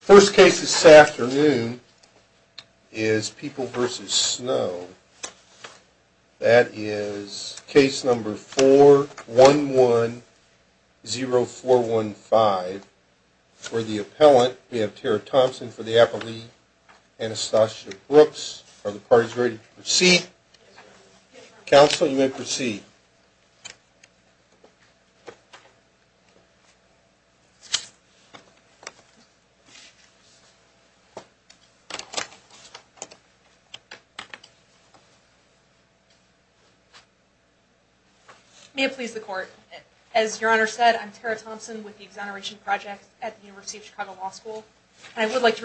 First case this afternoon is People v. Snow. That is case number 4110415. For the appellant, we have Tara Thompson for the appellee, Anastasia Brooks. Are the parties ready to proceed? Counsel, you may proceed. May it please the court, as your honor said, I'm Tara Thompson with the Exoneration Project at the University of Chicago Law School. I would like to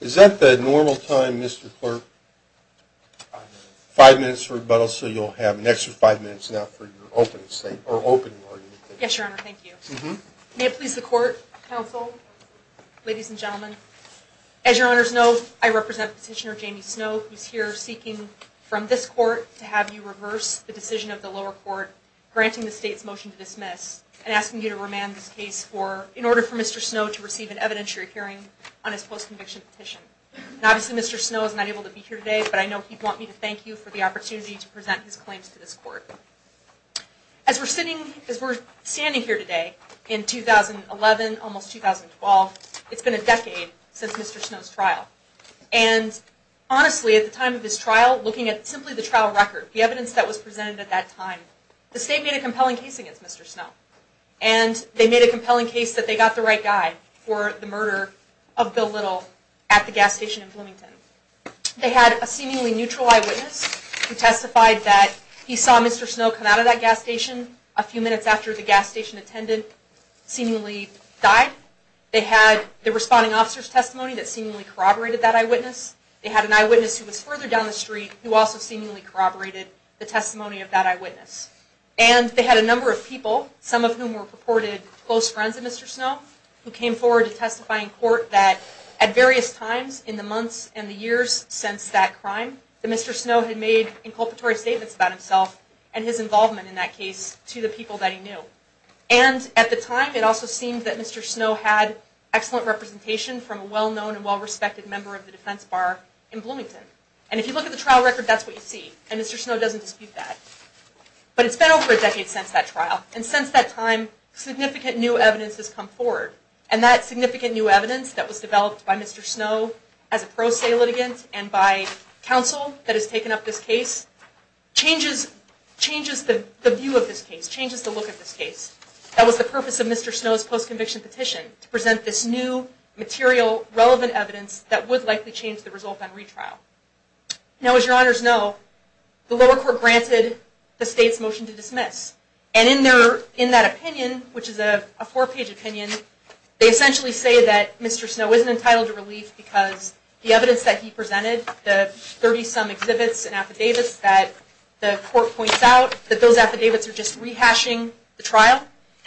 Is that the normal time, Mr. Clerk? Five minutes for rebuttal, so you'll have an extra five minutes now for your opening statement. Yes, your honor, thank you. May it please the court, counsel, ladies and gentlemen, as your honors know, I represent Petitioner Jamie Snow, who's here seeking from this court to have you reverse the decision of the lower court, granting the state's motion to dismiss and asking you to remand this case for, in order for Mr. Snow to receive an conviction petition. Obviously, Mr. Snow is not able to be here today, but I know he'd want me to thank you for the opportunity to present his claims to this court. As we're sitting, as we're standing here today, in 2011, almost 2012, it's been a decade since Mr. Snow's trial. And honestly, at the time of this trial, looking at simply the trial record, the evidence that was presented at that time, the state made a compelling case against Mr. Snow. And they made a compelling case against Mr. Snow at the gas station in Bloomington. They had a seemingly neutral eyewitness who testified that he saw Mr. Snow come out of that gas station a few minutes after the gas station attendant seemingly died. They had the responding officer's testimony that seemingly corroborated that eyewitness. They had an eyewitness who was further down the street who also seemingly corroborated the testimony of that eyewitness. And they had a number of people, some of whom were purported close friends of Mr. Snow, who came forward to testify. And at various times in the months and the years since that crime, Mr. Snow had made inculpatory statements about himself and his involvement in that case to the people that he knew. And at the time, it also seemed that Mr. Snow had excellent representation from a well-known and well-respected member of the defense bar in Bloomington. And if you look at the trial record, that's what you see. And Mr. Snow doesn't dispute that. But it's been over a decade since that trial. And since that time, significant new evidence has come forward. And that Mr. Snow, as a pro se litigant and by counsel that has taken up this case, changes the view of this case, changes the look of this case. That was the purpose of Mr. Snow's post-conviction petition, to present this new material relevant evidence that would likely change the result on retrial. Now, as your honors know, the lower court granted the state's motion to dismiss. And in that opinion, which is a four-page opinion, they essentially say that Mr. Snow isn't entitled to relief because the evidence that he presented, the 30-some exhibits and affidavits that the court points out, that those affidavits are just rehashing the trial.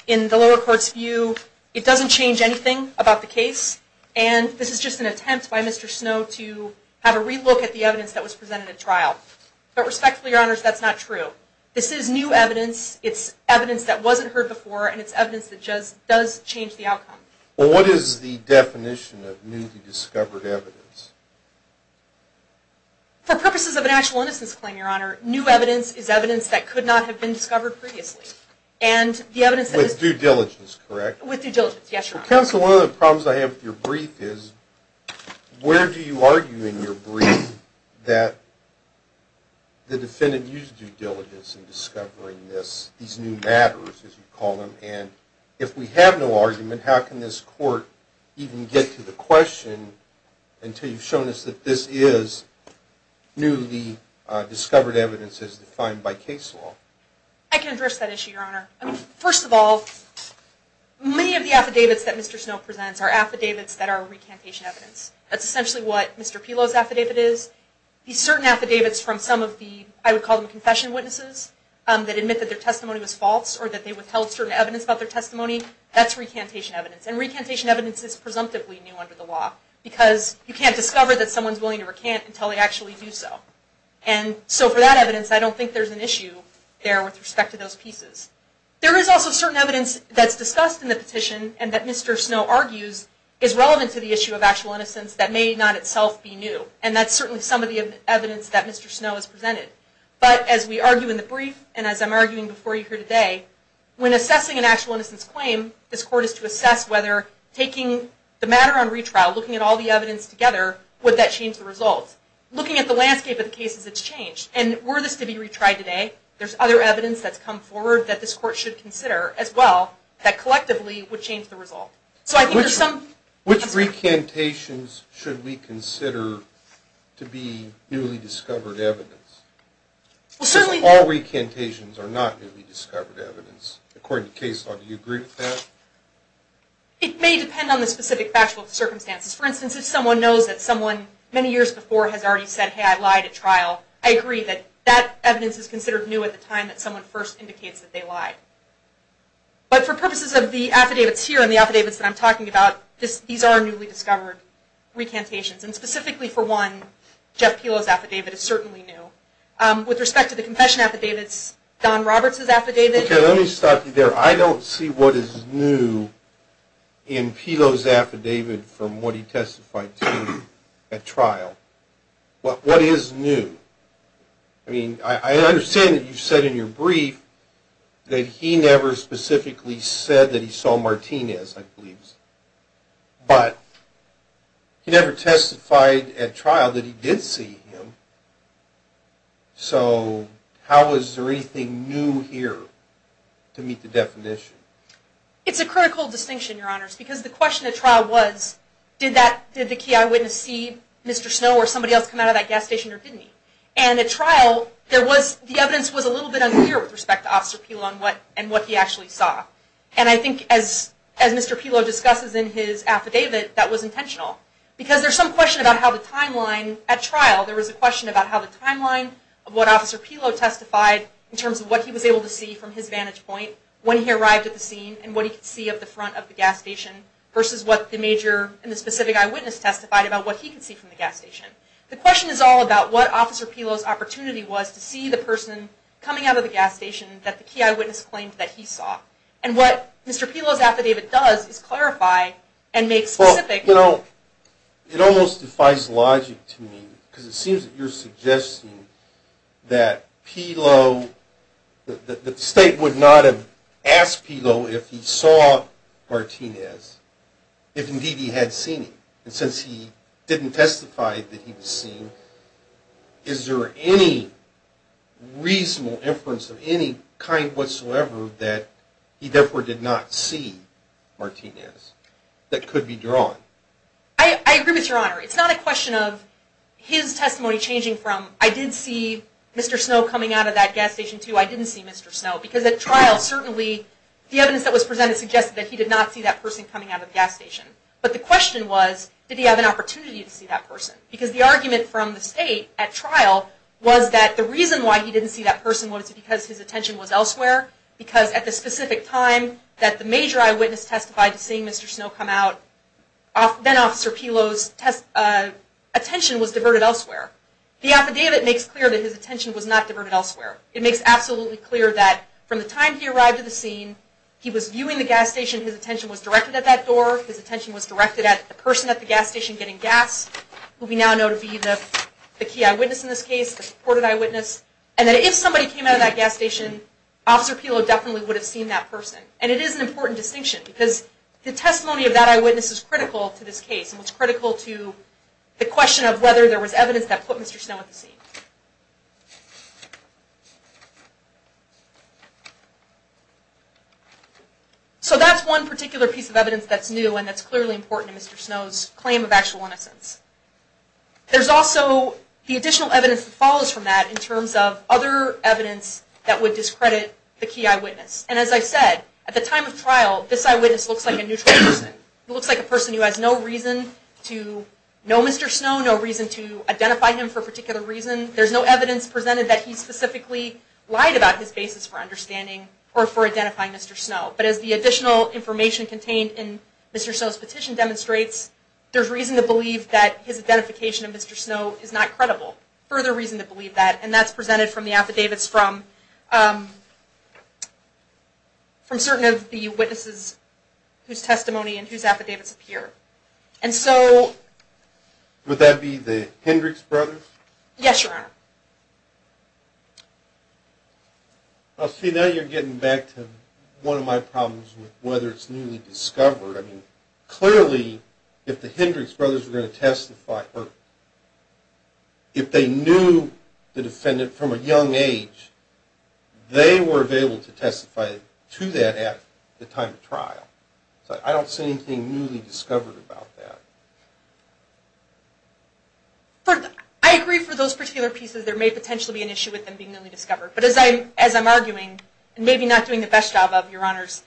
In the lower court's view, it doesn't change anything about the case. And this is just an attempt by Mr. Snow to have a relook at the evidence that was presented at trial. But respectfully, your honors, that's not true. This is new evidence. It's evidence that wasn't heard before. And it's evidence that does change the outcome. Well, what is the definition of new to discovered evidence? For purposes of an actual innocence claim, your honor, new evidence is evidence that could not have been discovered previously. And the evidence that is With due diligence, correct? With due diligence, yes, your honor. Counsel, one of the problems I have with your brief is, where do you argue in your brief that the defendant used due diligence in discovering this, these new evidence? How can this court even get to the question until you've shown us that this is newly discovered evidence as defined by case law? I can address that issue, your honor. First of all, many of the affidavits that Mr. Snow presents are affidavits that are recantation evidence. That's essentially what Mr. Pilo's affidavit is. These certain affidavits from some of the, I would call them confession witnesses, that admit that their testimony was false or that they withheld certain evidence about their testimony, that's recantation evidence. And recantation evidence is presumptively new under the law because you can't discover that someone's willing to recant until they actually do so. And so for that evidence, I don't think there's an issue there with respect to those pieces. There is also certain evidence that's discussed in the petition and that Mr. Snow argues is relevant to the issue of actual innocence that may not itself be new. And that's certainly some of the evidence that Mr. Snow has presented. But as we argue in the brief, and as I'm arguing before you here today, when assessing an actual innocence claim, this court is to assess whether taking the matter on retrial, looking at all the evidence together, would that change the results? Looking at the landscape of the cases it's changed. And were this to be retried today, there's other evidence that's come forward that this court should consider as well that collectively would change the result. So I think there's some... Which recantations should we consider to be newly discovered evidence? Because our recantations are not newly discovered evidence. According to case law, do you agree with that? It may depend on the specific factual circumstances. For instance, if someone knows that someone many years before has already said, hey, I lied at trial, I agree that that evidence is considered new at the time that someone first indicates that they lied. But for purposes of the affidavits here and the affidavits that I'm talking about, these are newly discovered recantations. And specifically for one, Jeff Pilo's affidavit is certainly new. With respect to the confession affidavits, Don Roberts' affidavit... Okay, let me stop you there. I don't see what is new in Pilo's affidavit from what he testified to at trial. What is new? I mean, I understand that you said in your brief that he never specifically said that he saw Martinez, I believe, but he never testified at trial that he did see him. So, how is there anything new here to meet the definition? It's a critical distinction, Your Honors, because the question at trial was, did the key eyewitness see Mr. Snow or somebody else come out of that gas station or didn't he? And at trial, the evidence was a little bit unclear with respect to Officer Pilo and what he actually saw. And I think as Mr. Pilo discusses in his affidavit, that was intentional. Because there's some question about how the timeline at trial, there was a question about how the timeline of what Officer Pilo testified in terms of what he was able to see from his vantage point when he arrived at the scene and what he could see of the front of the gas station versus what the major and the specific eyewitness testified about what he could see from the gas station. The question is all about what Officer Pilo's opportunity was to see the person coming out of the gas station that the key eyewitness claimed that he saw. And what Mr. Pilo's testimony does is clarify and make specific... Well, you know, it almost defies logic to me because it seems that you're suggesting that Pilo, that the State would not have asked Pilo if he saw Martinez, if indeed he had seen him. And since he didn't testify that he was seen, is there any reasonable inference of any kind whatsoever that he therefore did not see Martinez that could be drawn? I agree with Your Honor. It's not a question of his testimony changing from I did see Mr. Snow coming out of that gas station to I didn't see Mr. Snow. Because at trial certainly the evidence that was presented suggested that he did not see that person coming out of the gas station. But the question was, did he have an opportunity to see that person? Because the argument from the State at trial was that the reason why he didn't see that person was because his attention was elsewhere. Because at the specific time that the major eyewitness testified to seeing Mr. Snow come out, then-Officer Pilo's attention was diverted elsewhere. The affidavit makes clear that his attention was not diverted elsewhere. It makes absolutely clear that from the time he arrived at the scene, he was viewing the gas station. His attention was directed at that door. His attention was directed at the person at the gas station getting gas, who we now know to be the key eyewitness in this case, the supported eyewitness. And that if somebody came out of that gas station, Officer Pilo definitely would have seen that person. And it is an important distinction because the testimony of that eyewitness is critical to this case and was critical to the question of whether there was evidence that put Mr. Snow at the scene. So that's one particular piece of evidence that's new and that's clearly important to Mr. Snow's claim of actual innocence. There's also the additional evidence that follows from that in terms of other evidence that would discredit the key eyewitness. And as I said, at the time of trial, this eyewitness looks like a neutral person. He looks like a person who has no reason to know Mr. Snow, no reason to identify him for a particular reason. There's no evidence presented that he specifically lied about his basis for understanding or for identifying Mr. Snow. But as the additional information contained in Mr. Snow's petition demonstrates, there's reason to believe that his identification of Mr. Snow is not credible, further reason to believe that. And that's presented from the affidavits from certain of the witnesses whose testimony and whose affidavits appear. And so... Would that be the Hendricks brothers? Yes, Your Honor. I see now you're getting back to one of my problems with whether it's newly discovered evidence. If they knew the defendant from a young age, they were able to testify to that at the time of trial. So I don't see anything newly discovered about that. I agree for those particular pieces. There may potentially be an issue with them being newly discovered. But as I'm arguing, and maybe not doing the best job of, Your Honors,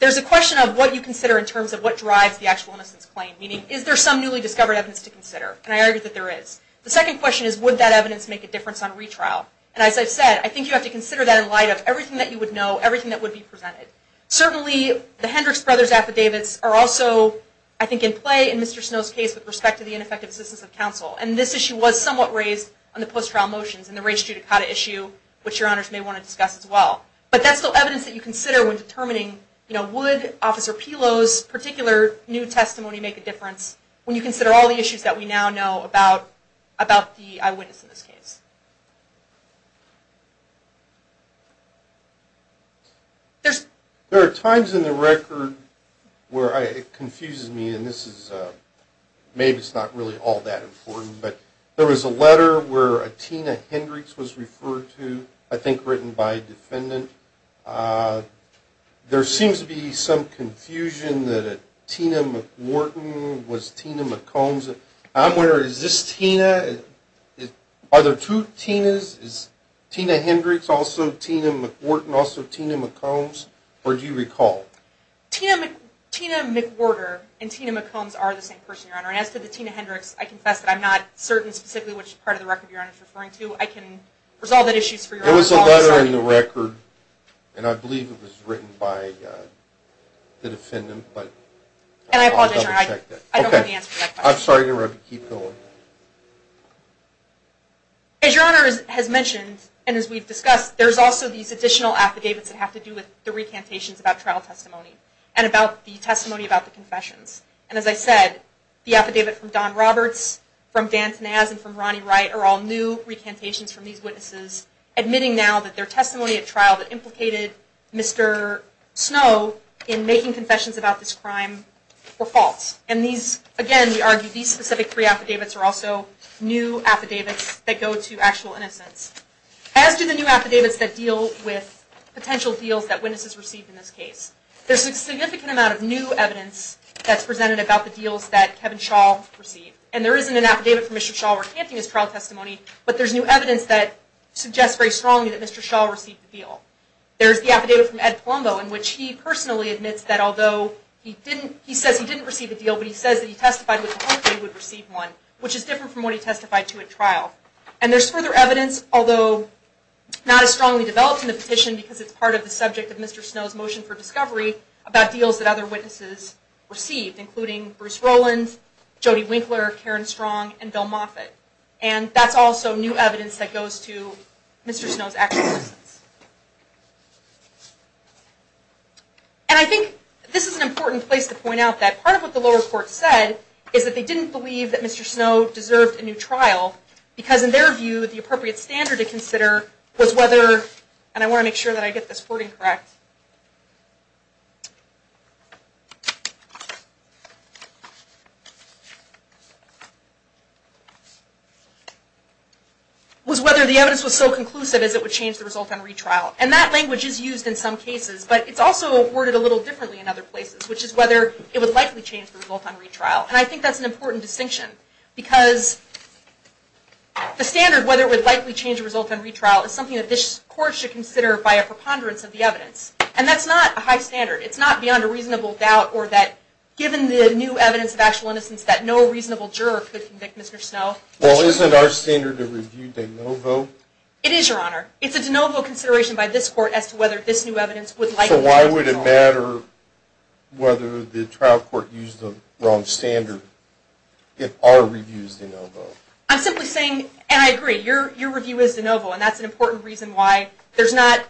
there's a question of what you consider in terms of what drives the actual innocence claim. Meaning, is there some newly discovered evidence to consider? And I argue that there is. The second question is, would that evidence make a difference on retrial? And as I've said, I think you have to consider that in light of everything that you would know, everything that would be presented. Certainly, the Hendricks brothers affidavits are also, I think, in play in Mr. Snow's case with respect to the ineffective assistance of counsel. And this issue was somewhat raised on the post-trial motions and the race judicata issue, which Your Honors may want to discuss as well. But that's still evidence that you consider when determining, you know, would Officer Snow's case make a difference? And that's all the issues that we now know about the eyewitness in this case. There are times in the record where it confuses me, and this is, maybe it's not really all that important, but there was a letter where Atina Hendricks was referred to, I think written by a defendant. There seems to be some confusion that Tina McWhorton was Tina McCombs. I'm wondering, is this Tina? Are there two Tinas? Is Tina Hendricks also Tina McWhorton, also Tina McCombs? Or do you recall? Tina McWhorter and Tina McCombs are the same person, Your Honor. And as to the Tina Hendricks, I confess that I'm not certain specifically which part of the record Your Honor is referring to. I can resolve that issue for Your Honor. There was a letter in the record, and I believe it was written by the defendant, but I'll double check that. And I apologize, Your Honor, I don't have the answer to that question. I'm sorry to interrupt, but keep going. As Your Honor has mentioned, and as we've discussed, there's also these additional affidavits that have to do with the recantations about trial testimony, and about the testimony about the confessions. And as I said, the affidavit from Don Roberts, from Dan Tanaz, and from Ronnie Wright are all new affidavits that are presenting now that their testimony at trial that implicated Mr. Snow in making confessions about this crime were false. And these, again, we argue these specific three affidavits are also new affidavits that go to actual innocence. As do the new affidavits that deal with potential deals that witnesses received in this case. There's a significant amount of new evidence that's presented about the deals that Kevin Shaw received. And there isn't an affidavit from Mr. Shaw recanting his trial testimony, but there's new Mr. Shaw received the deal. There's the affidavit from Ed Palumbo, in which he personally admits that although he didn't, he says he didn't receive a deal, but he says that he testified with the hope that he would receive one, which is different from what he testified to at trial. And there's further evidence, although not as strongly developed in the petition, because it's part of the subject of Mr. Snow's motion for discovery, about deals that other witnesses received, including Bruce Rollins, Jody Winkler, Karen Strong, and Bill Moffitt. And that's also new evidence that goes to Mr. Snow's actual witnesses. And I think this is an important place to point out that part of what the lower court said is that they didn't believe that Mr. Snow deserved a new trial, because in their view, the appropriate standard to consider was whether, and I want to make sure that I get this the result on retrial. And that language is used in some cases, but it's also worded a little differently in other places, which is whether it would likely change the result on retrial. And I think that's an important distinction, because the standard whether it would likely change the result on retrial is something that this court should consider by a preponderance of the evidence. And that's not a high standard. It's not beyond a reasonable doubt, or that given the new evidence of actual innocence, that no reasonable juror could convict Mr. Snow. Well, isn't our standard to review de novo? It is, Your Honor. It's a de novo consideration by this court as to whether this new evidence would likely change the result. So why would it matter whether the trial court used the wrong standard if our review is de novo? I'm simply saying, and I agree, your review is de novo, and that's an important reason why there's not,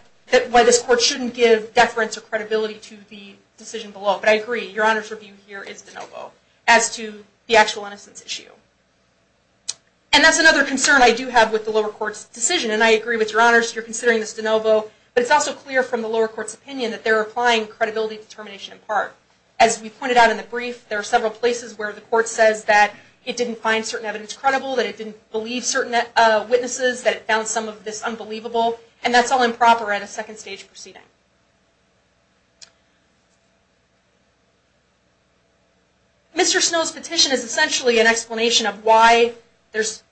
why this court shouldn't give deference or credibility to the decision below. But I agree, Your Honor's review here is de novo as to the actual innocence issue. And that's another concern I do have with the lower court's decision. And I agree with Your Honor's, you're considering this de novo, but it's also clear from the lower court's opinion that they're applying credibility determination in part. As we pointed out in the brief, there are several places where the court says that it didn't find certain evidence credible, that it didn't believe certain witnesses, that it found some of this unbelievable, and that's all improper at a second stage proceeding. Mr. Snow's petition is essentially an explanation of why there's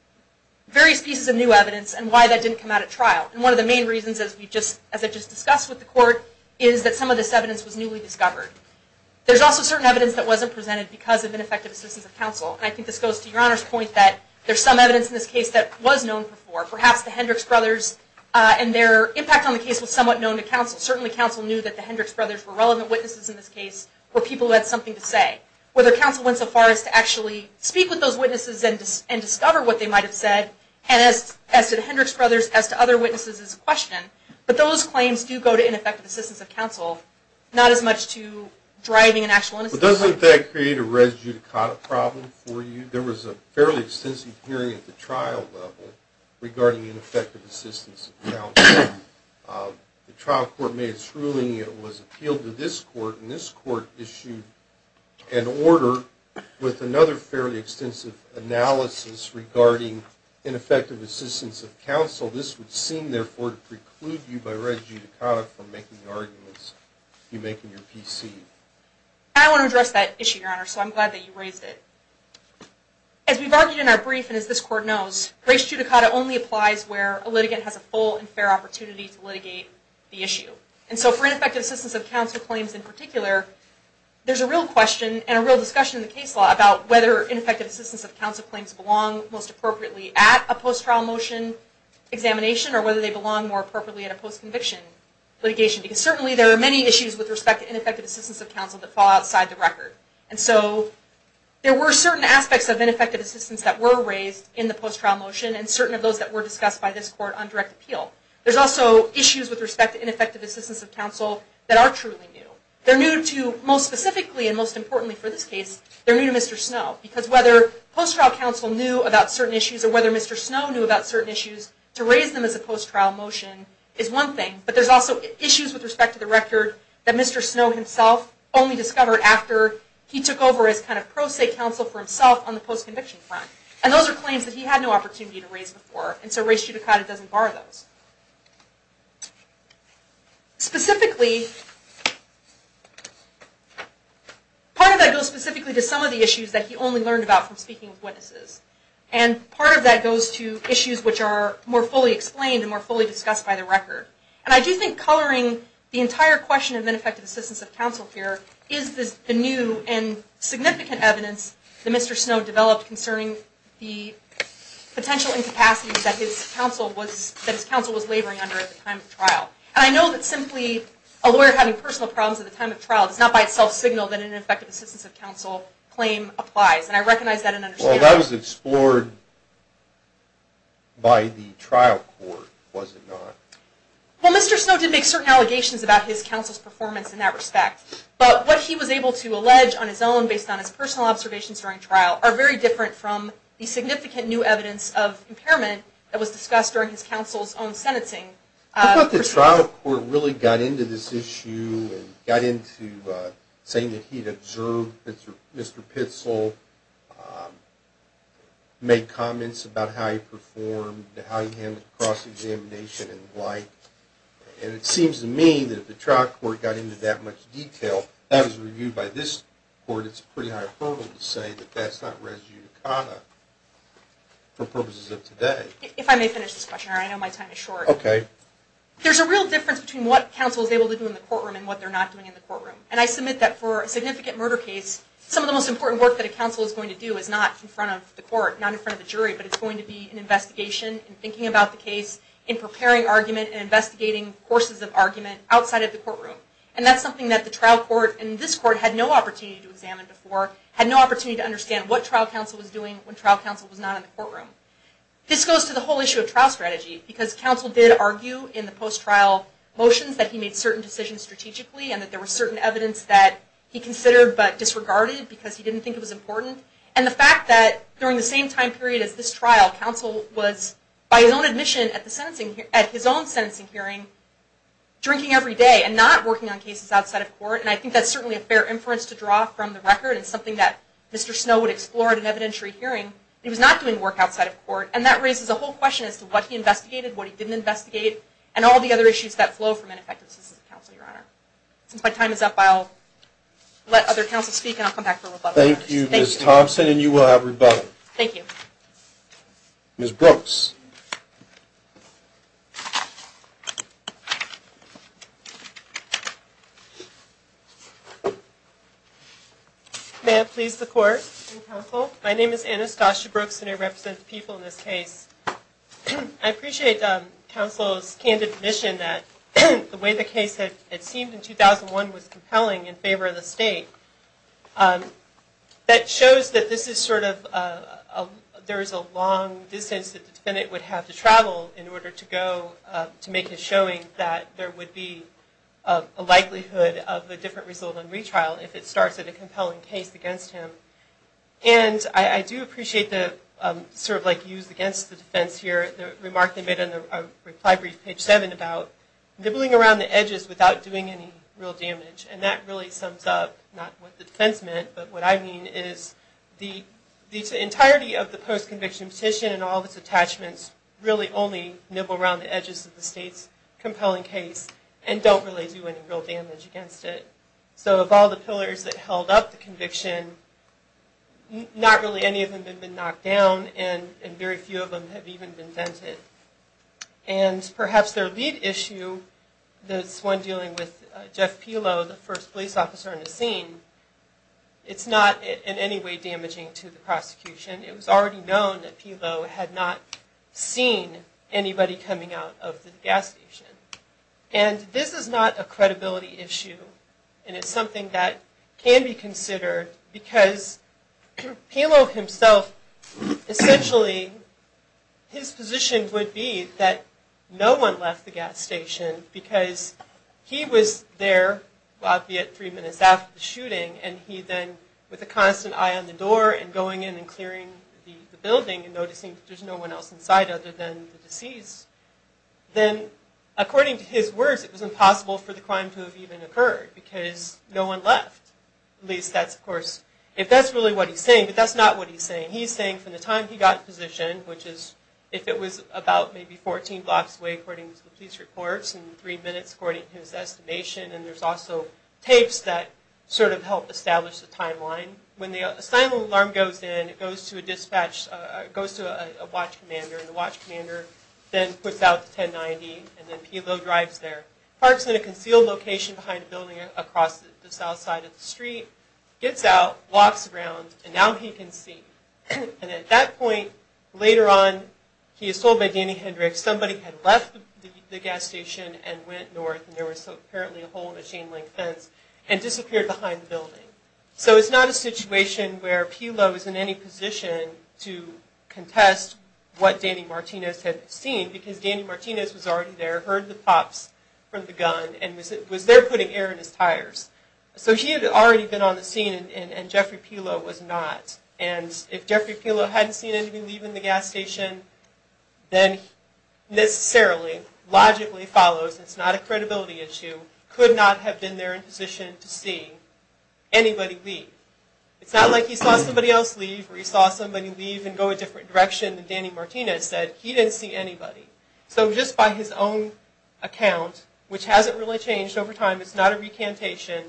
various pieces of new evidence and why that didn't come out at trial. And one of the main reasons, as we just, as I just discussed with the court, is that some of this evidence was newly discovered. There's also certain evidence that wasn't presented because of ineffective assistance of counsel. And I think this goes to Your Honor's point that there's some evidence in this case that was known before. Perhaps the Hendricks brothers and their impact on the case was somewhat known to counsel. Certain pieces of evidence that wasn't presented because of counsel knew that the Hendricks brothers were relevant witnesses in this case, were people who had something to say. Whether counsel went so far as to actually speak with those witnesses and discover what they might have said, and as to the Hendricks brothers, as to other witnesses, is a question. But those claims do go to ineffective assistance of counsel, not as much to driving an actual innocence. But doesn't that create a res judicata problem for you? There was a fairly extensive hearing at the trial level regarding ineffective assistance of counsel. The trial court made its ruling, it was appealed to this court, and this court issued an order with another fairly extensive analysis regarding ineffective assistance of counsel. This would seem, therefore, to preclude you by res judicata from making the arguments you make in your PC. I want to address that issue, Your Honor, so I'm glad that you raised it. As we've argued in our brief, and as this court knows, res judicata only applies where a litigant has a full and fair opportunity to litigate the issue. And so for ineffective assistance of counsel claims in particular, there's a real question and a real discussion in the case law about whether ineffective assistance of counsel claims belong most appropriately at a post-trial motion examination, or whether they belong more appropriately at a post-conviction litigation. Because certainly there are many issues with respect to ineffective assistance of counsel that fall outside the record. And so there were certain aspects of ineffective assistance that were raised in the post-trial motion, and certain of those that were discussed by this court on direct appeal. There's also issues with respect to ineffective assistance of counsel that are truly new. They're new to, most specifically and most importantly for this case, they're new to Mr. Snow. Because whether post-trial counsel knew about certain issues, or whether Mr. Snow knew about certain issues, to raise them as a post-trial motion is one thing. But there's also issues with respect to the record that Mr. Snow himself only discovered after he took over as kind of pro se counsel for himself on the post-conviction front. And those are claims that he had no opportunity to raise before. And so race judicata doesn't bar those. Specifically, part of that goes specifically to some of the issues that he only learned about from speaking with witnesses. And part of that goes to issues which are more fully explained and more fully discussed by the record. And I do think coloring the entire question of ineffective assistance of counsel here is the new and significant evidence that Mr. Snow developed concerning the potential incapacity that his counsel was laboring under at the time of trial. And I know that simply a lawyer having personal problems at the time of trial does not by itself signal that an ineffective assistance of counsel claim applies. And I recognize that and understand that. Well, that was explored by the trial court, was it not? Well, Mr. Snow did make certain allegations about his counsel's performance in that respect. But what he was able to allege on his own based on his personal observations during trial are very different from the significant new evidence of impairment that was discussed during his counsel's own sentencing. I thought the trial court really got into this issue and got into saying that he'd observed Mr. Pitzel, made comments about how he performed, how he handled cross-examination and the like. And it seems to me that if the trial court got into that much detail, that was reviewed by this court. It's pretty high probable to say that that's not res judicata for purposes of today. If I may finish this question, I know my time is short. Okay. There's a real difference between what counsel is able to do in the courtroom and what they're not doing in the courtroom. And I submit that for a significant murder case, some of the most important work that a counsel is going to do is not in front of the court, not in front of the jury, but it's going to be an investigation and thinking about the case in preparing argument and investigating courses of argument outside of the courtroom. And that's something that the trial court and this court had no opportunity to examine before, had no opportunity to understand what trial counsel was doing when trial counsel was not in the courtroom. This goes to the whole issue of trial strategy because counsel did argue in the post-trial motions that he made certain decisions strategically and that there were certain evidence that he considered but disregarded because he didn't think it was important. And the fact that during the same time period as this trial counsel was, by his own admission at his own sentencing hearing, drinking every day and not working on cases outside of court. And I think that's certainly a fair inference to draw from the record and something that Mr. Snow would explore at an evidentiary hearing. He was not doing work outside of court and that raises a whole question as to what he investigated, what he didn't investigate, and all the other issues that flow from ineffectiveness as a counsel, Your Honor. Since my time is up, I'll let other counsel speak and I'll come back for rebuttal. Thank you, Ms. Thompson, and you will have rebuttal. Thank you. Ms. Brooks. May I please the court and counsel? My name is Anastasia Brooks and I represent the people in this case. I appreciate counsel's candid admission that the way the case had seemed in 2001 was compelling in favor of the state. That shows that this is sort of, there is a long distance that the defendant would have to travel in order to go to make a showing that there would be a likelihood of a different result on retrial if it starts at a compelling case against him. And I do appreciate the sort of like use against the defense here, the remark they made on the reply brief page 7 about nibbling around the edges without doing any real damage and that really sums up not what the defense meant, but what I mean is the entirety of the post-conviction petition and all of its attachments really only nibble around the edges of the state's compelling case and don't really do any real damage against it. So of all the pillars that held up the conviction, not really any of them have been knocked down and very few of them have even been vented. And perhaps their lead issue, this one dealing with Jeff Pelow, the first police officer in the scene, it's not in any way damaging to the prosecution. It was already known that Pelow had not seen anybody coming out of the gas station and this is not a credibility issue and it's something that can be considered because Pelow himself, essentially his position would be that no one left the gas station because he was there, albeit three minutes after the shooting, and he then with a constant eye on the door and going in and clearing the building and noticing there's no one else inside other than the police, then according to his words, it was impossible for the crime to have even occurred because no one left. At least that's of course, if that's really what he's saying, but that's not what he's saying. He's saying from the time he got in position, which is if it was about maybe 14 blocks away according to the police reports and three minutes according to his estimation and there's also tapes that sort of helped establish the timeline. When the silent alarm goes in, it goes to a dispatch, goes to a watch commander and the watch commander then puts out the 1090 and then Pelow drives there, parks in a concealed location behind a building across the south side of the street, gets out, walks around and now he can see. And at that point later on, he is told by Danny Hendricks, somebody had left the gas station and went north and there was apparently a hole in a chain link fence and disappeared behind the building. So it's not a situation where Pelow is in any position to contest what Danny Martinez had seen because Danny Martinez was already there, heard the pops from the gun and was there putting air in his tires. So he had already been on the scene and Jeffrey Pelow was not. And if Jeffrey Pelow hadn't seen anybody leaving the gas station, then necessarily, logically follows, it's not a credibility issue, could not have been there in position to see anybody leave. It's not like he saw somebody else leave or he saw somebody leave and go a different direction than Danny Martinez said. He didn't see anybody. So just by his own account, which hasn't really changed over time, it's not a recantation,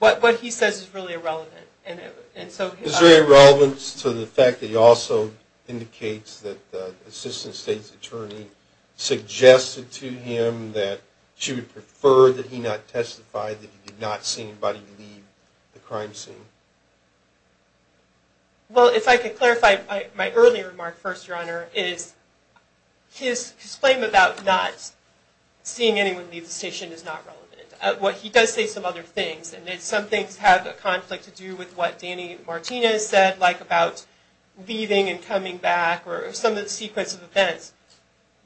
but what he says is really irrelevant. And so... Is there a relevance to the fact that he also indicates that the assistant state's attorney suggested to him that she would prefer that he not testify that he did not see anybody leave the crime scene? Well, if I could clarify my earlier remark first, your honor, is his claim about not seeing anyone leave the station is not relevant. What he does say some other things and some things have a conflict to do with what Danny Martinez said like about leaving and coming back or some of the sequence of events.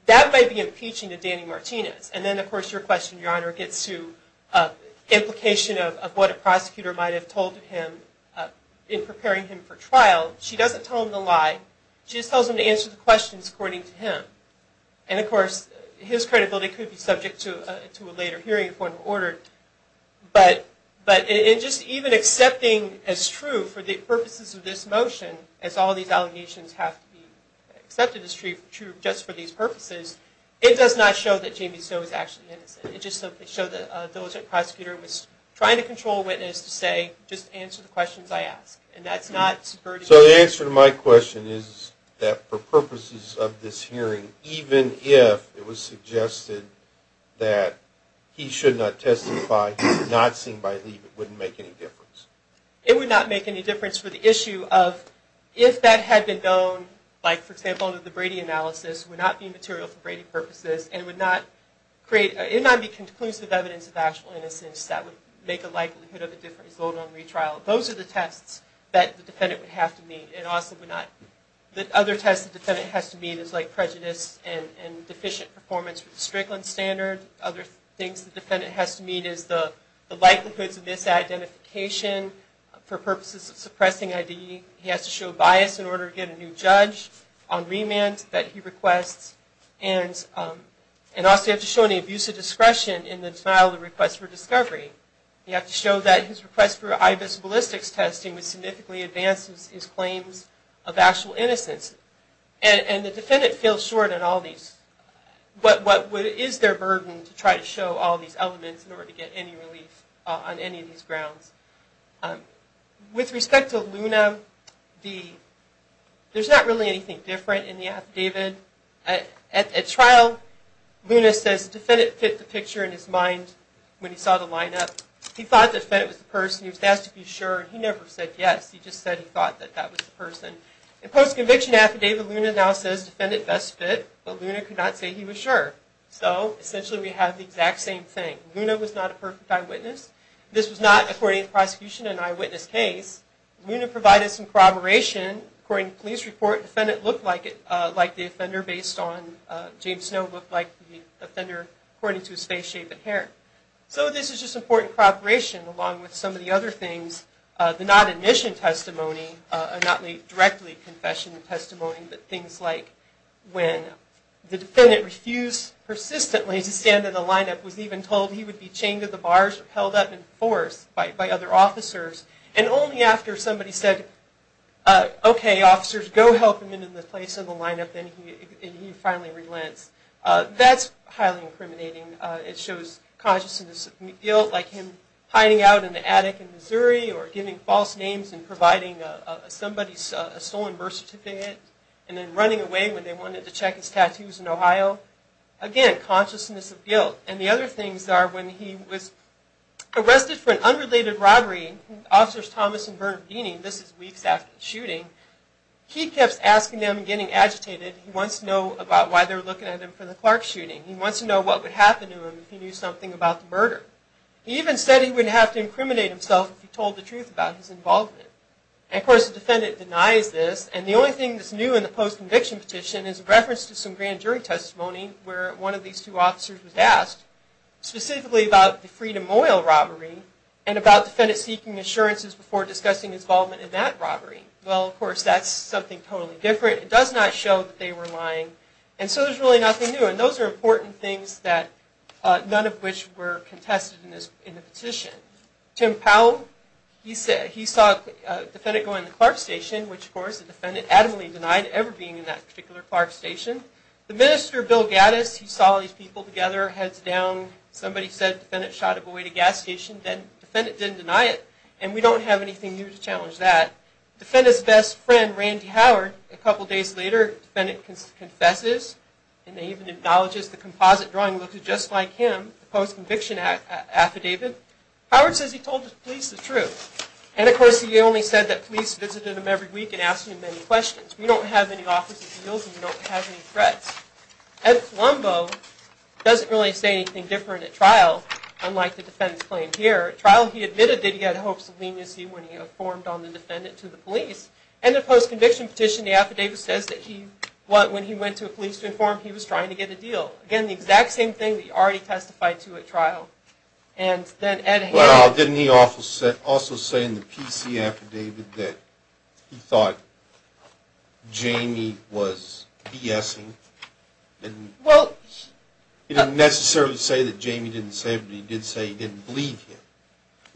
That might be impeaching to Danny Martinez. And then, of course, your question, your honor, gets to implication of what a prosecutor might have told him in preparing him for trial. She doesn't tell him the lie. She just tells him to answer the questions according to him. And, of course, his credibility could be subject to a later hearing if one were ordered. But in just even accepting as true for the purposes of this motion, as all these allegations have to be accepted as true just for these purposes, it does not show that Jamie Stowe is actually innocent. It just shows that a diligent prosecutor was trying to control a witness to say, just answer the questions I ask. And that's not. So the answer to my question is that for purposes of this hearing, even if it was suggested that he should not testify, not seen by leave, it wouldn't make any difference. It would not make any difference for the issue of if that had been known, like, for example, the Brady analysis would not be material for Brady purposes and would not create, it would not be conclusive evidence of actual innocence that would create the likelihood of a different result on retrial. Those are the tests that the defendant would have to meet. And also would not, the other tests the defendant has to meet is like prejudice and deficient performance with the Strickland standard. Other things the defendant has to meet is the likelihoods of misidentification for purposes of suppressing ID. He has to show bias in order to get a new judge on remand that he requests. And also you have to show any abuse of discretion in the denial of request for discovery. You have to show that his request for IBIS ballistics testing would significantly advance his claims of actual innocence. And the defendant feels short on all these. What is their burden to try to show all these elements in order to get any relief on any of these grounds? With respect to Luna, there's not really anything different in the affidavit. At trial, Luna says the defendant fit the picture in his mind when he saw the lineup. He thought the defendant was the person. He was asked to be sure. He never said yes. He just said he thought that that was the person. In post-conviction affidavit, Luna now says the defendant best fit, but Luna could not say he was sure. So essentially we have the exact same thing. Luna was not a perfect eyewitness. This was not, according to the prosecution, an eyewitness case. Luna provided some corroboration. According to the police report, the defendant looked like the offender based on, James Snow looked like the offender according to his face, shape, and hair. So this is just important corroboration along with some of the other things. The non-admission testimony, a not directly confession testimony, but things like when the defendant refused persistently to stand in the lineup, was even told he would be chained to the bars or held up in force by other officers, and only after somebody said, okay, officers, go help him into the place in the lineup, then he finally relents. That's highly incriminating. It shows consciousness of guilt, like him hiding out in the attic in Missouri or giving false names and providing somebody's stolen birth certificate, and then running away when they wanted to check his tattoos in Ohio. Again, consciousness of guilt. And the other things are when he was arrested for an unrelated robbery, Officers Thomas and Bernard Guiney, this is weeks after the shooting, he kept asking them and getting agitated. He wants to know about why they're looking at him for the Clark shooting. He wants to know what would happen to him if he knew something about the murder. He even said he wouldn't have to incriminate himself if he told the truth about his involvement. And of course, the defendant denies this, and the only thing that's new in the post-conviction petition is a reference to some grand jury testimony where one of these two officers was asked, specifically about the Freedom Oil robbery, and about the defendant seeking assurances before discussing his involvement in that robbery. Well, of course, that's something totally different. It does not show that they were lying. And so there's really nothing new. And those are important things that none of which were contested in the petition. Tim Powell, he saw a defendant going to the Clark Station, which of course the defendant adamantly denied ever being in that particular Clark Station. The Minister Bill Gattis, he saw these people together, heads down. Somebody said the defendant shot a boy at a gas station, then the defendant didn't deny it. And we don't have anything new to challenge that. Defendant's best friend, Randy Howard, a couple days later, the defendant confesses and even acknowledges the composite drawing looks just like him. Post-conviction affidavit. Howard says he told the police the truth. And of course, he only said that police visited him every week and asked him many questions. We don't have any officer's guilt and we don't have any threats. Ed Colombo doesn't really say anything different at trial, unlike the defendant's claim here. At trial, he admitted that he had hopes of leniency when he informed on the defendant to the police. And the post-conviction petition, the affidavit says that he, when he went to the police to inform, he was trying to get a deal. Again, the exact same thing that he already testified to at trial. And then Ed had... Well, didn't he also say in the PC affidavit that he thought Jamie was BSing? And... Well... He didn't necessarily say that Jamie didn't say it, but he did say he didn't believe him.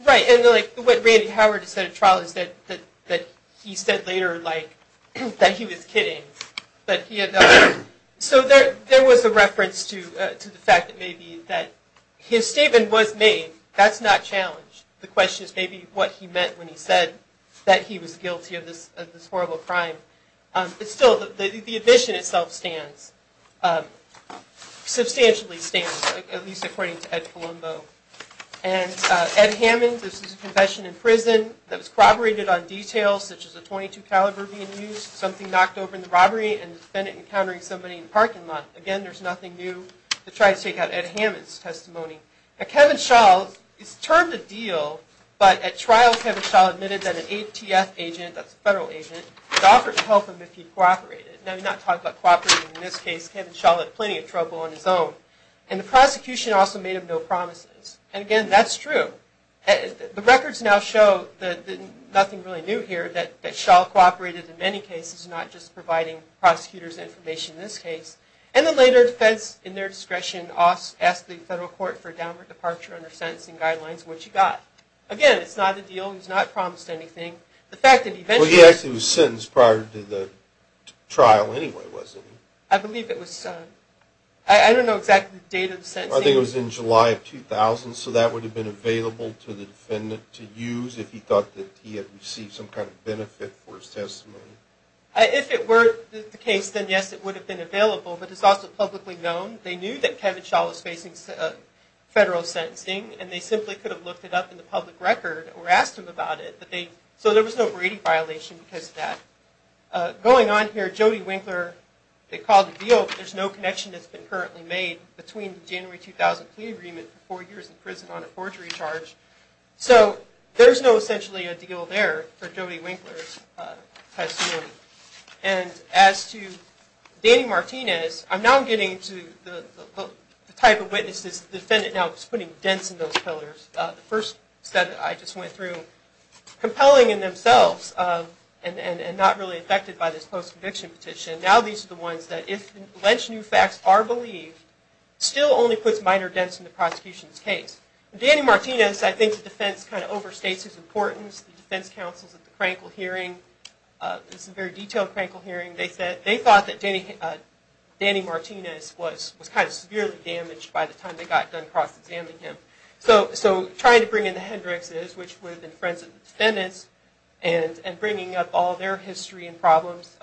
Right. And like what Randy Howard said at trial is that he said later, like, that he was kidding, but he had... So there was a reference to the fact that maybe that his statement was made. That's not challenged. The question is maybe what he meant when he said that he was guilty of this horrible crime. It's still, the admission itself stands. Substantially stands, at least according to Ed Colombo. And Ed Hammond, this is a confession in prison that was corroborated on details such as a .22 caliber being used, something knocked over in the robbery, and the defendant encountering somebody in the parking lot. Again, there's nothing new to try to take out Ed Hammond's testimony. Kevin Schall, it's termed a deal, but at trial Kevin Schall admitted that an ATF agent, that's a federal agent, had offered to help him if he cooperated. Now we're not talking about cooperating in this case. Kevin Schall had plenty of trouble on his own. And the prosecution also made him no promises. And again, that's true. The records now show that nothing really new here, that Schall cooperated in many cases, not just providing prosecutors information in this case. And the later defense, in their discretion, asked the federal court for a downward departure under sentencing guidelines, which he got. Again, it's not a deal, he's not promised anything. The fact that eventually... Well, he actually was sentenced prior to the trial anyway, wasn't he? I believe it was... I don't know exactly the date of the sentencing. I think it was in July of 2000. So that would have been available to the defendant to use if he thought that he had received some kind of benefit for his testimony. If it were the case, then yes, it would have been available. But it's also publicly known. They knew that Kevin Schall was facing federal sentencing, and they simply could have looked it up in the public record or asked him about it. So there was no Brady violation because of that. Going on here, Jody Winkler, they called it a deal, but there's no connection that's been currently made between the January 2000 plea agreement for four years in prison on a forgery charge. So there's no essentially a deal there for Jody Winkler. And as to Danny Martinez, I'm now getting to the type of witnesses the defendant now is putting dents in those pillars. The first set I just went through compelling in themselves and not really affected by this post-conviction petition. Now, these are the ones that if alleged new facts are believed, still only puts minor dents in the prosecution's case. Danny Martinez, I think the defense kind of overstates his importance. The defense counsels at the this is a very detailed Crankle hearing. They said they thought that Danny Martinez was kind of severely damaged by the time they got done cross-examining him. So trying to bring in the Hendrixes, which would have been friends of the defendants, and bringing up all their history and problems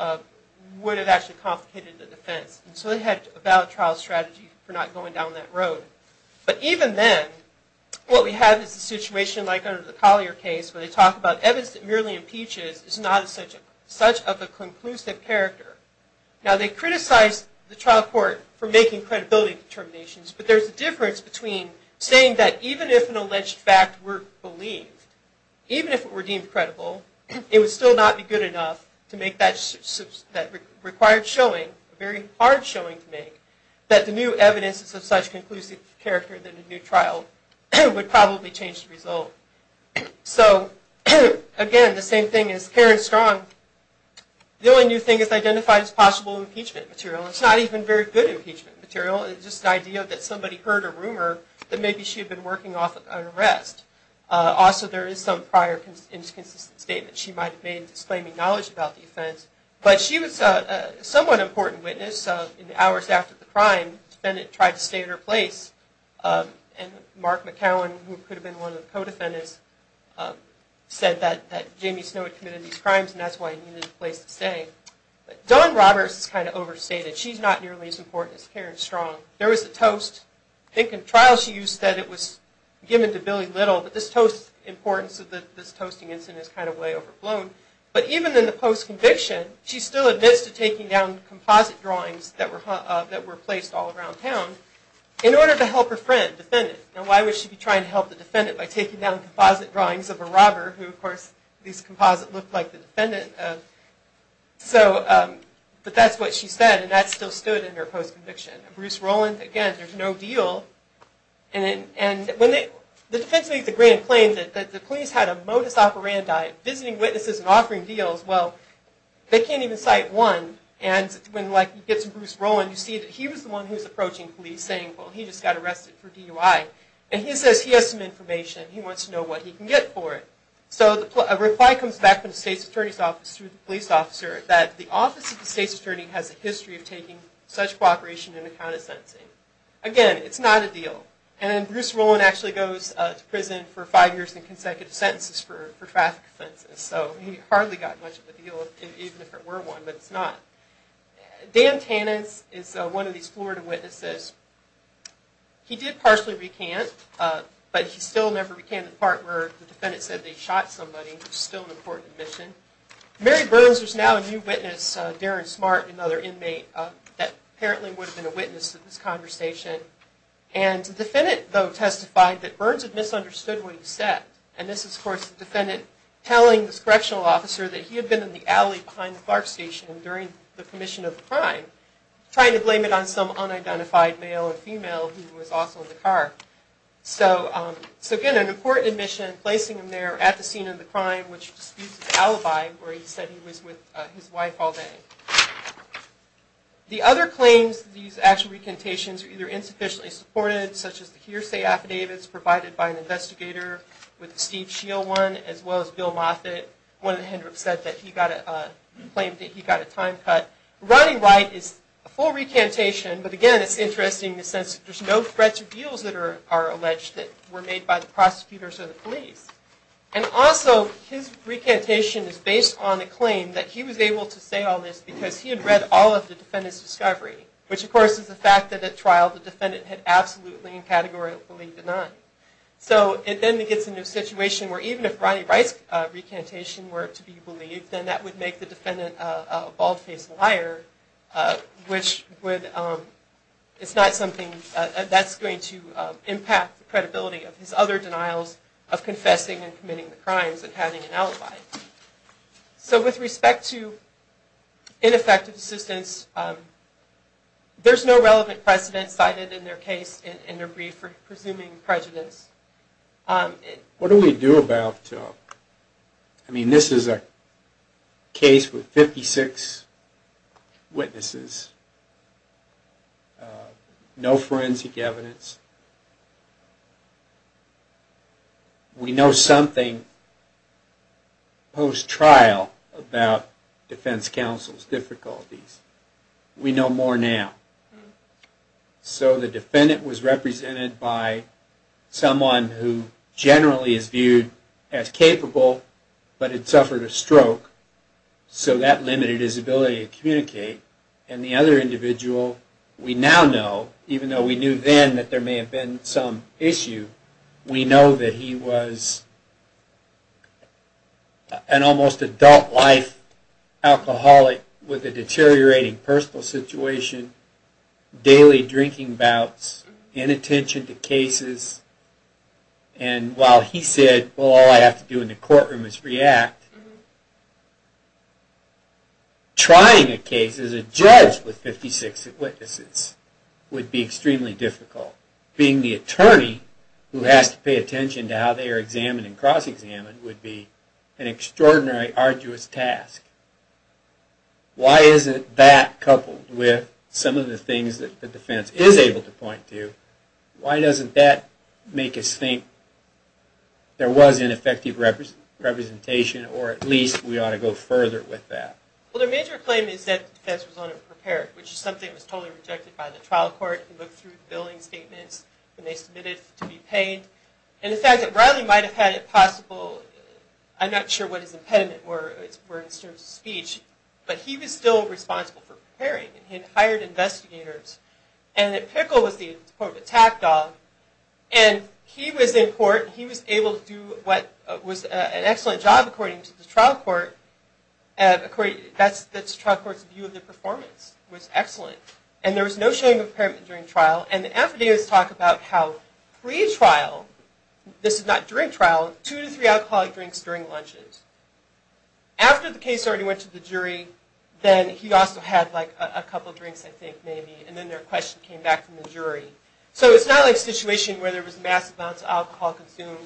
would have actually complicated the defense. So they had a valid trial strategy for not going down that road. But even then, what we have is a situation like under the Collier case where they talk about evidence that merely impeaches is not such of a conclusive character. Now, they criticize the trial court for making credibility determinations, but there's a difference between saying that even if an alleged fact were believed, even if it were deemed credible, it would still not be good enough to make that required showing, a very hard showing to make, that the new evidence is of such conclusive character that a new trial would probably change the result. So, again, the same thing as Karen Strong, the only new thing is identified as possible impeachment material. It's not even very good impeachment material. It's just the idea that somebody heard a rumor that maybe she had been working off an arrest. Also, there is some prior inconsistent statement she might have made disclaiming knowledge about the offense. But she was a somewhat important crime. The defendant tried to stay in her place, and Mark McCowan, who could have been one of the co-defendants, said that Jamie Snow had committed these crimes and that's why he needed a place to stay. Dawn Roberts is kind of overstated. She's not nearly as important as Karen Strong. There was a toast. I think in trial she said it was given to Billy Little, but this toast importance of this toasting incident is kind of way overblown. But even in the post-conviction, she still admits to taking down composite drawings that were placed all around town in order to help her friend, defendant. Now, why would she be trying to help the defendant by taking down composite drawings of a robber, who, of course, these composite looked like the defendant. So, but that's what she said, and that still stood in her post-conviction. Bruce Rowland, again, there's no deal. And when the defense makes a grand claim that the police had a modus operandi, visiting witnesses and offering deals, well, they can't even cite one. And when you get to Bruce Rowland, you see that he was the one who was approaching police saying, well, he just got arrested for DUI. And he says he has some information. He wants to know what he can get for it. So, a reply comes back from the state's attorney's office to the police officer that the office of the state's attorney has a history of taking such cooperation in account of sentencing. Again, it's not a deal. And Bruce Rowland actually goes to prison for five years in consecutive sentences for traffic offenses. So, he hardly got much of a deal, even if it were one, but it's not. Dan Tannis is one of these Florida witnesses. He did partially recant, but he still never recanted the part where the defendant said they shot somebody, which is still an important admission. Mary Burns is now a new witness. Darren Smart, another inmate, that apparently would have been a witness to this conversation. And the defendant, though, testified that Burns had misunderstood what he said. And this is, of course, the defendant telling this correctional officer that he had been in the alley behind the Clark station during the commission of the crime, trying to blame it on some unidentified male or female who was also in the car. So, again, an important admission, placing him there at the scene of the crime, which disputes the alibi where he said he was with his wife all day. The other claims that these actual recantations are either insufficiently supported, such as the hearsay affidavits provided by an investigator with the Steve Shield one, as well as Bill Moffitt, one of the Hendrix said that he got a claim that he got a time cut. Rodney Wright is a full recantation, but again, it's interesting in the sense that there's no threats or deals that are alleged that were made by the prosecutors or the police. And also his recantation is based on a claim that he was able to say all this because he had read all of the defendant's discovery, which of course is the fact that at trial the defendant had absolutely and categorically denied. So it then gets into a situation where even if Rodney Wright's recantation were to be believed, then that would make the defendant a bald-faced liar, which would, it's not something that's going to impact the credibility of his other denials of confessing and committing the crimes and having an alibi. So with respect to ineffective assistance, there's no relevant precedent cited in their case in their brief for presuming prejudice. What do we do about, I mean, this is a case with 56 witnesses, no forensic evidence, we know something post-trial about defense counsel's difficulties. We know more now. So the defendant was represented by someone who generally is viewed as capable, but had suffered a stroke, so that limited his ability to communicate. And the other individual we now know, even though we knew then that there may have been some issue, we know that he was an almost adult-life alcoholic with a deteriorating personal situation, daily drinking bouts, inattention to cases. And while he said, well, all I have to do in the courtroom is react, trying a case as a judge with 56 witnesses would be extremely difficult, being the attorney who has to pay attention to how they are examined and cross-examined would be an extraordinarily arduous task. Why isn't that coupled with some of the things that the defense is able to point to? Why doesn't that make us think there was ineffective representation, or at least we ought to go further with that? Well, their major claim is that the defense was unprepared, which is something that was totally rejected by the trial court who looked through the billing statements when they submitted to be paid. And the fact that Riley might have had it possible, I'm not sure what his impediments were in terms of speech, but he was still responsible for preparing and he had hired investigators and that Pickle was the important attack dog and he was in court, he was able to do what was an excellent job according to the trial court, according to the trial court's view of the performance, was excellent. And there was no showing of impairment during trial. And the affidavits talk about how pre-trial, this is not during trial, two to three alcoholic drinks during lunches. After the case already went to the jury, then he also had like a couple of drinks, I think, maybe, and then their question came back from the jury. So it's not like a situation where there was massive amounts of alcohol consumed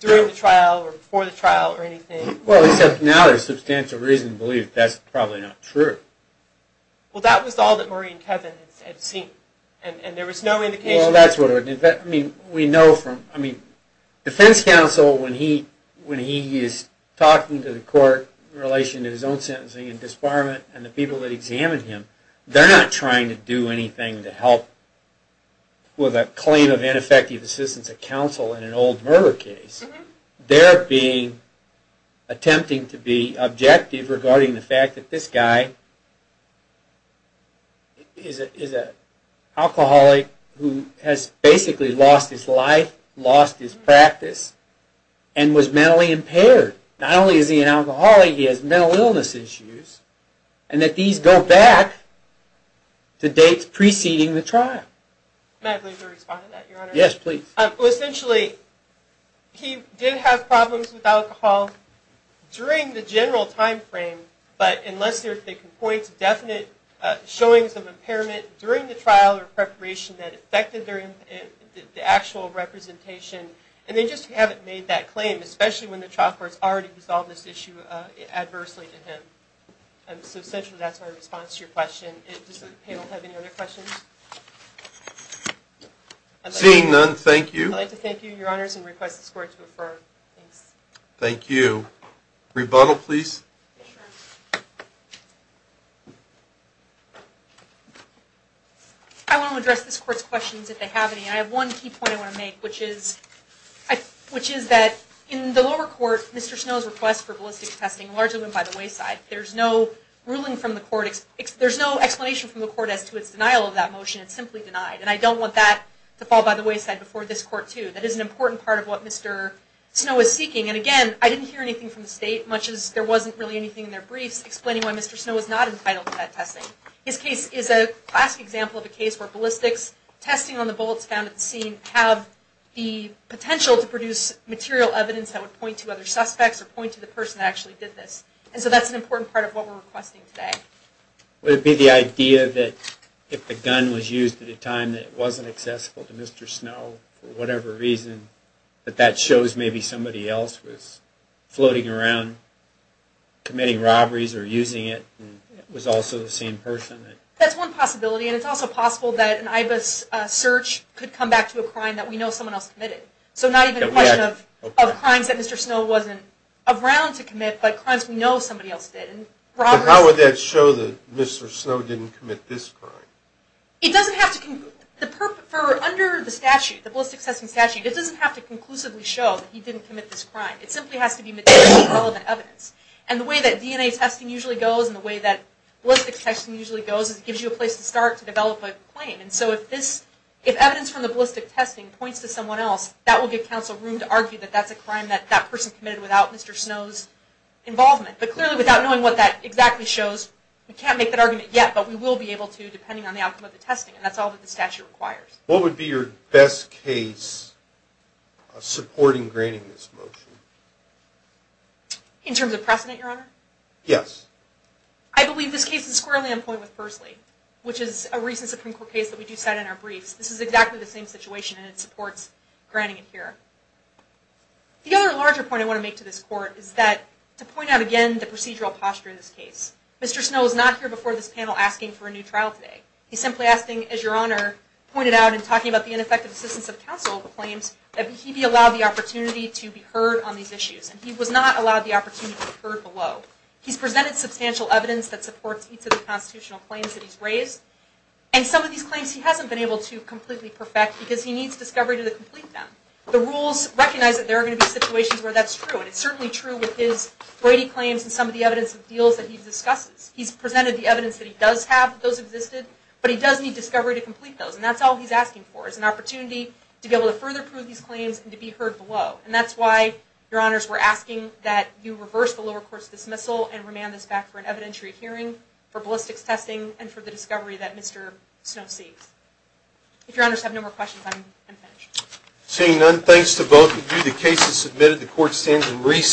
during the trial or before the trial or anything. Well, except now there's substantial reason to believe that's probably not true. Well, that was all that and there was no indication. Well, that's what I mean. We know from, I mean, defense counsel, when he is talking to the court in relation to his own sentencing and disbarment and the people that examined him, they're not trying to do anything to help with a claim of ineffective assistance of counsel in an old murder case. They're being, attempting to be objective regarding the fact that this guy is a alcoholic who has basically lost his life, lost his practice, and was mentally impaired. Not only is he an alcoholic, he has mental illness issues and that these go back to dates preceding the trial. May I please respond to that, Your Honor? Yes, please. Well, essentially, he did have problems with alcohol during the general timeframe, but unless there's a point to definite showings of trial or preparation that affected the actual representation, and they just haven't made that claim, especially when the trial court's already resolved this issue adversely to him. So essentially, that's my response to your question. Does the panel have any other questions? Seeing none, thank you. I'd like to thank you, Your Honors, and request this court to affirm. Thank you. Rebuttal, please. I want to address this court's questions, if they have any. I have one key point I want to make, which is that in the lower court, Mr. Snow's request for ballistic testing largely went by the wayside. There's no ruling from the court, there's no explanation from the court as to its denial of that motion. It's simply denied. And I don't want that to fall by the wayside before this court, too. That is an important part of what Mr. Snow is seeking. And again, I didn't hear anything from the state, much as there wasn't really anything in their briefs explaining why Mr. Snow was not entitled to that testing. His case is a classic example of a case where ballistics testing on the bullets found at the scene have the potential to produce material evidence that would point to other suspects, or point to the person that actually did this. And so that's an important part of what we're requesting today. Would it be the idea that if the gun was used at a time that it wasn't accessible to Mr. Snow, for whatever reason, that that shows maybe somebody else was floating around committing robberies or using it, and it was also the same person? That's one possibility. And it's also possible that an IBIS search could come back to a crime that we know someone else committed. So not even a question of crimes that Mr. Snow wasn't around to commit, but crimes we know somebody else did. But how would that show that Mr. Snow didn't commit this crime? It doesn't have to... For under the statute, the ballistics testing statute, it doesn't have to conclusively show that he didn't commit this crime. It simply has to be material and relevant evidence. And the way that DNA testing usually goes, and the way that ballistics testing usually goes, is it gives you a place to start to develop a claim. And so if this, if evidence from the ballistics testing points to someone else, that will give counsel room to argue that that's a crime that that person committed without Mr. Snow's involvement. But clearly without knowing what that exactly shows, we can't make that argument yet, but we will be able to depending on the outcome of the testing. And that's all that the statute requires. What would be your best case supporting graining this motion? In terms of precedent, Your Honor? Yes. I believe this case is squarely on point with Pursley, which is a recent Supreme Court case that we do cite in our briefs. This is exactly the same situation, and it supports graining it here. The other larger point I want to make to this Court is that to point out again the procedural posture in this case. Mr. Snow was not here before this panel asking for a new trial today. He's simply asking, as Your Honor pointed out in talking about the ineffective assistance of counsel claims, that he be allowed the opportunity to be heard on these issues. And he was not allowed the opportunity to be heard below. He's presented substantial evidence that supports each of the constitutional claims that he's raised, and some of these claims he hasn't been able to completely perfect because he needs discovery to complete them. The rules recognize that there are going to be situations where that's true, and it's certainly true with his Brady claims and some of the evidence of deals that he discusses. He's presented the evidence that he does have those existed, but he does need discovery to complete those. And that's all he's asking for is an opportunity to be able to further prove these claims and to be heard below. And that's why, Your Honors, we're asking that you reverse the lower court's dismissal and remand this back for an evidentiary hearing, for the discovery that Mr. Snow seeks. If Your Honors have no more questions, I'm finished. Seeing none, thanks to both of you, the case is submitted. The court stands in recess.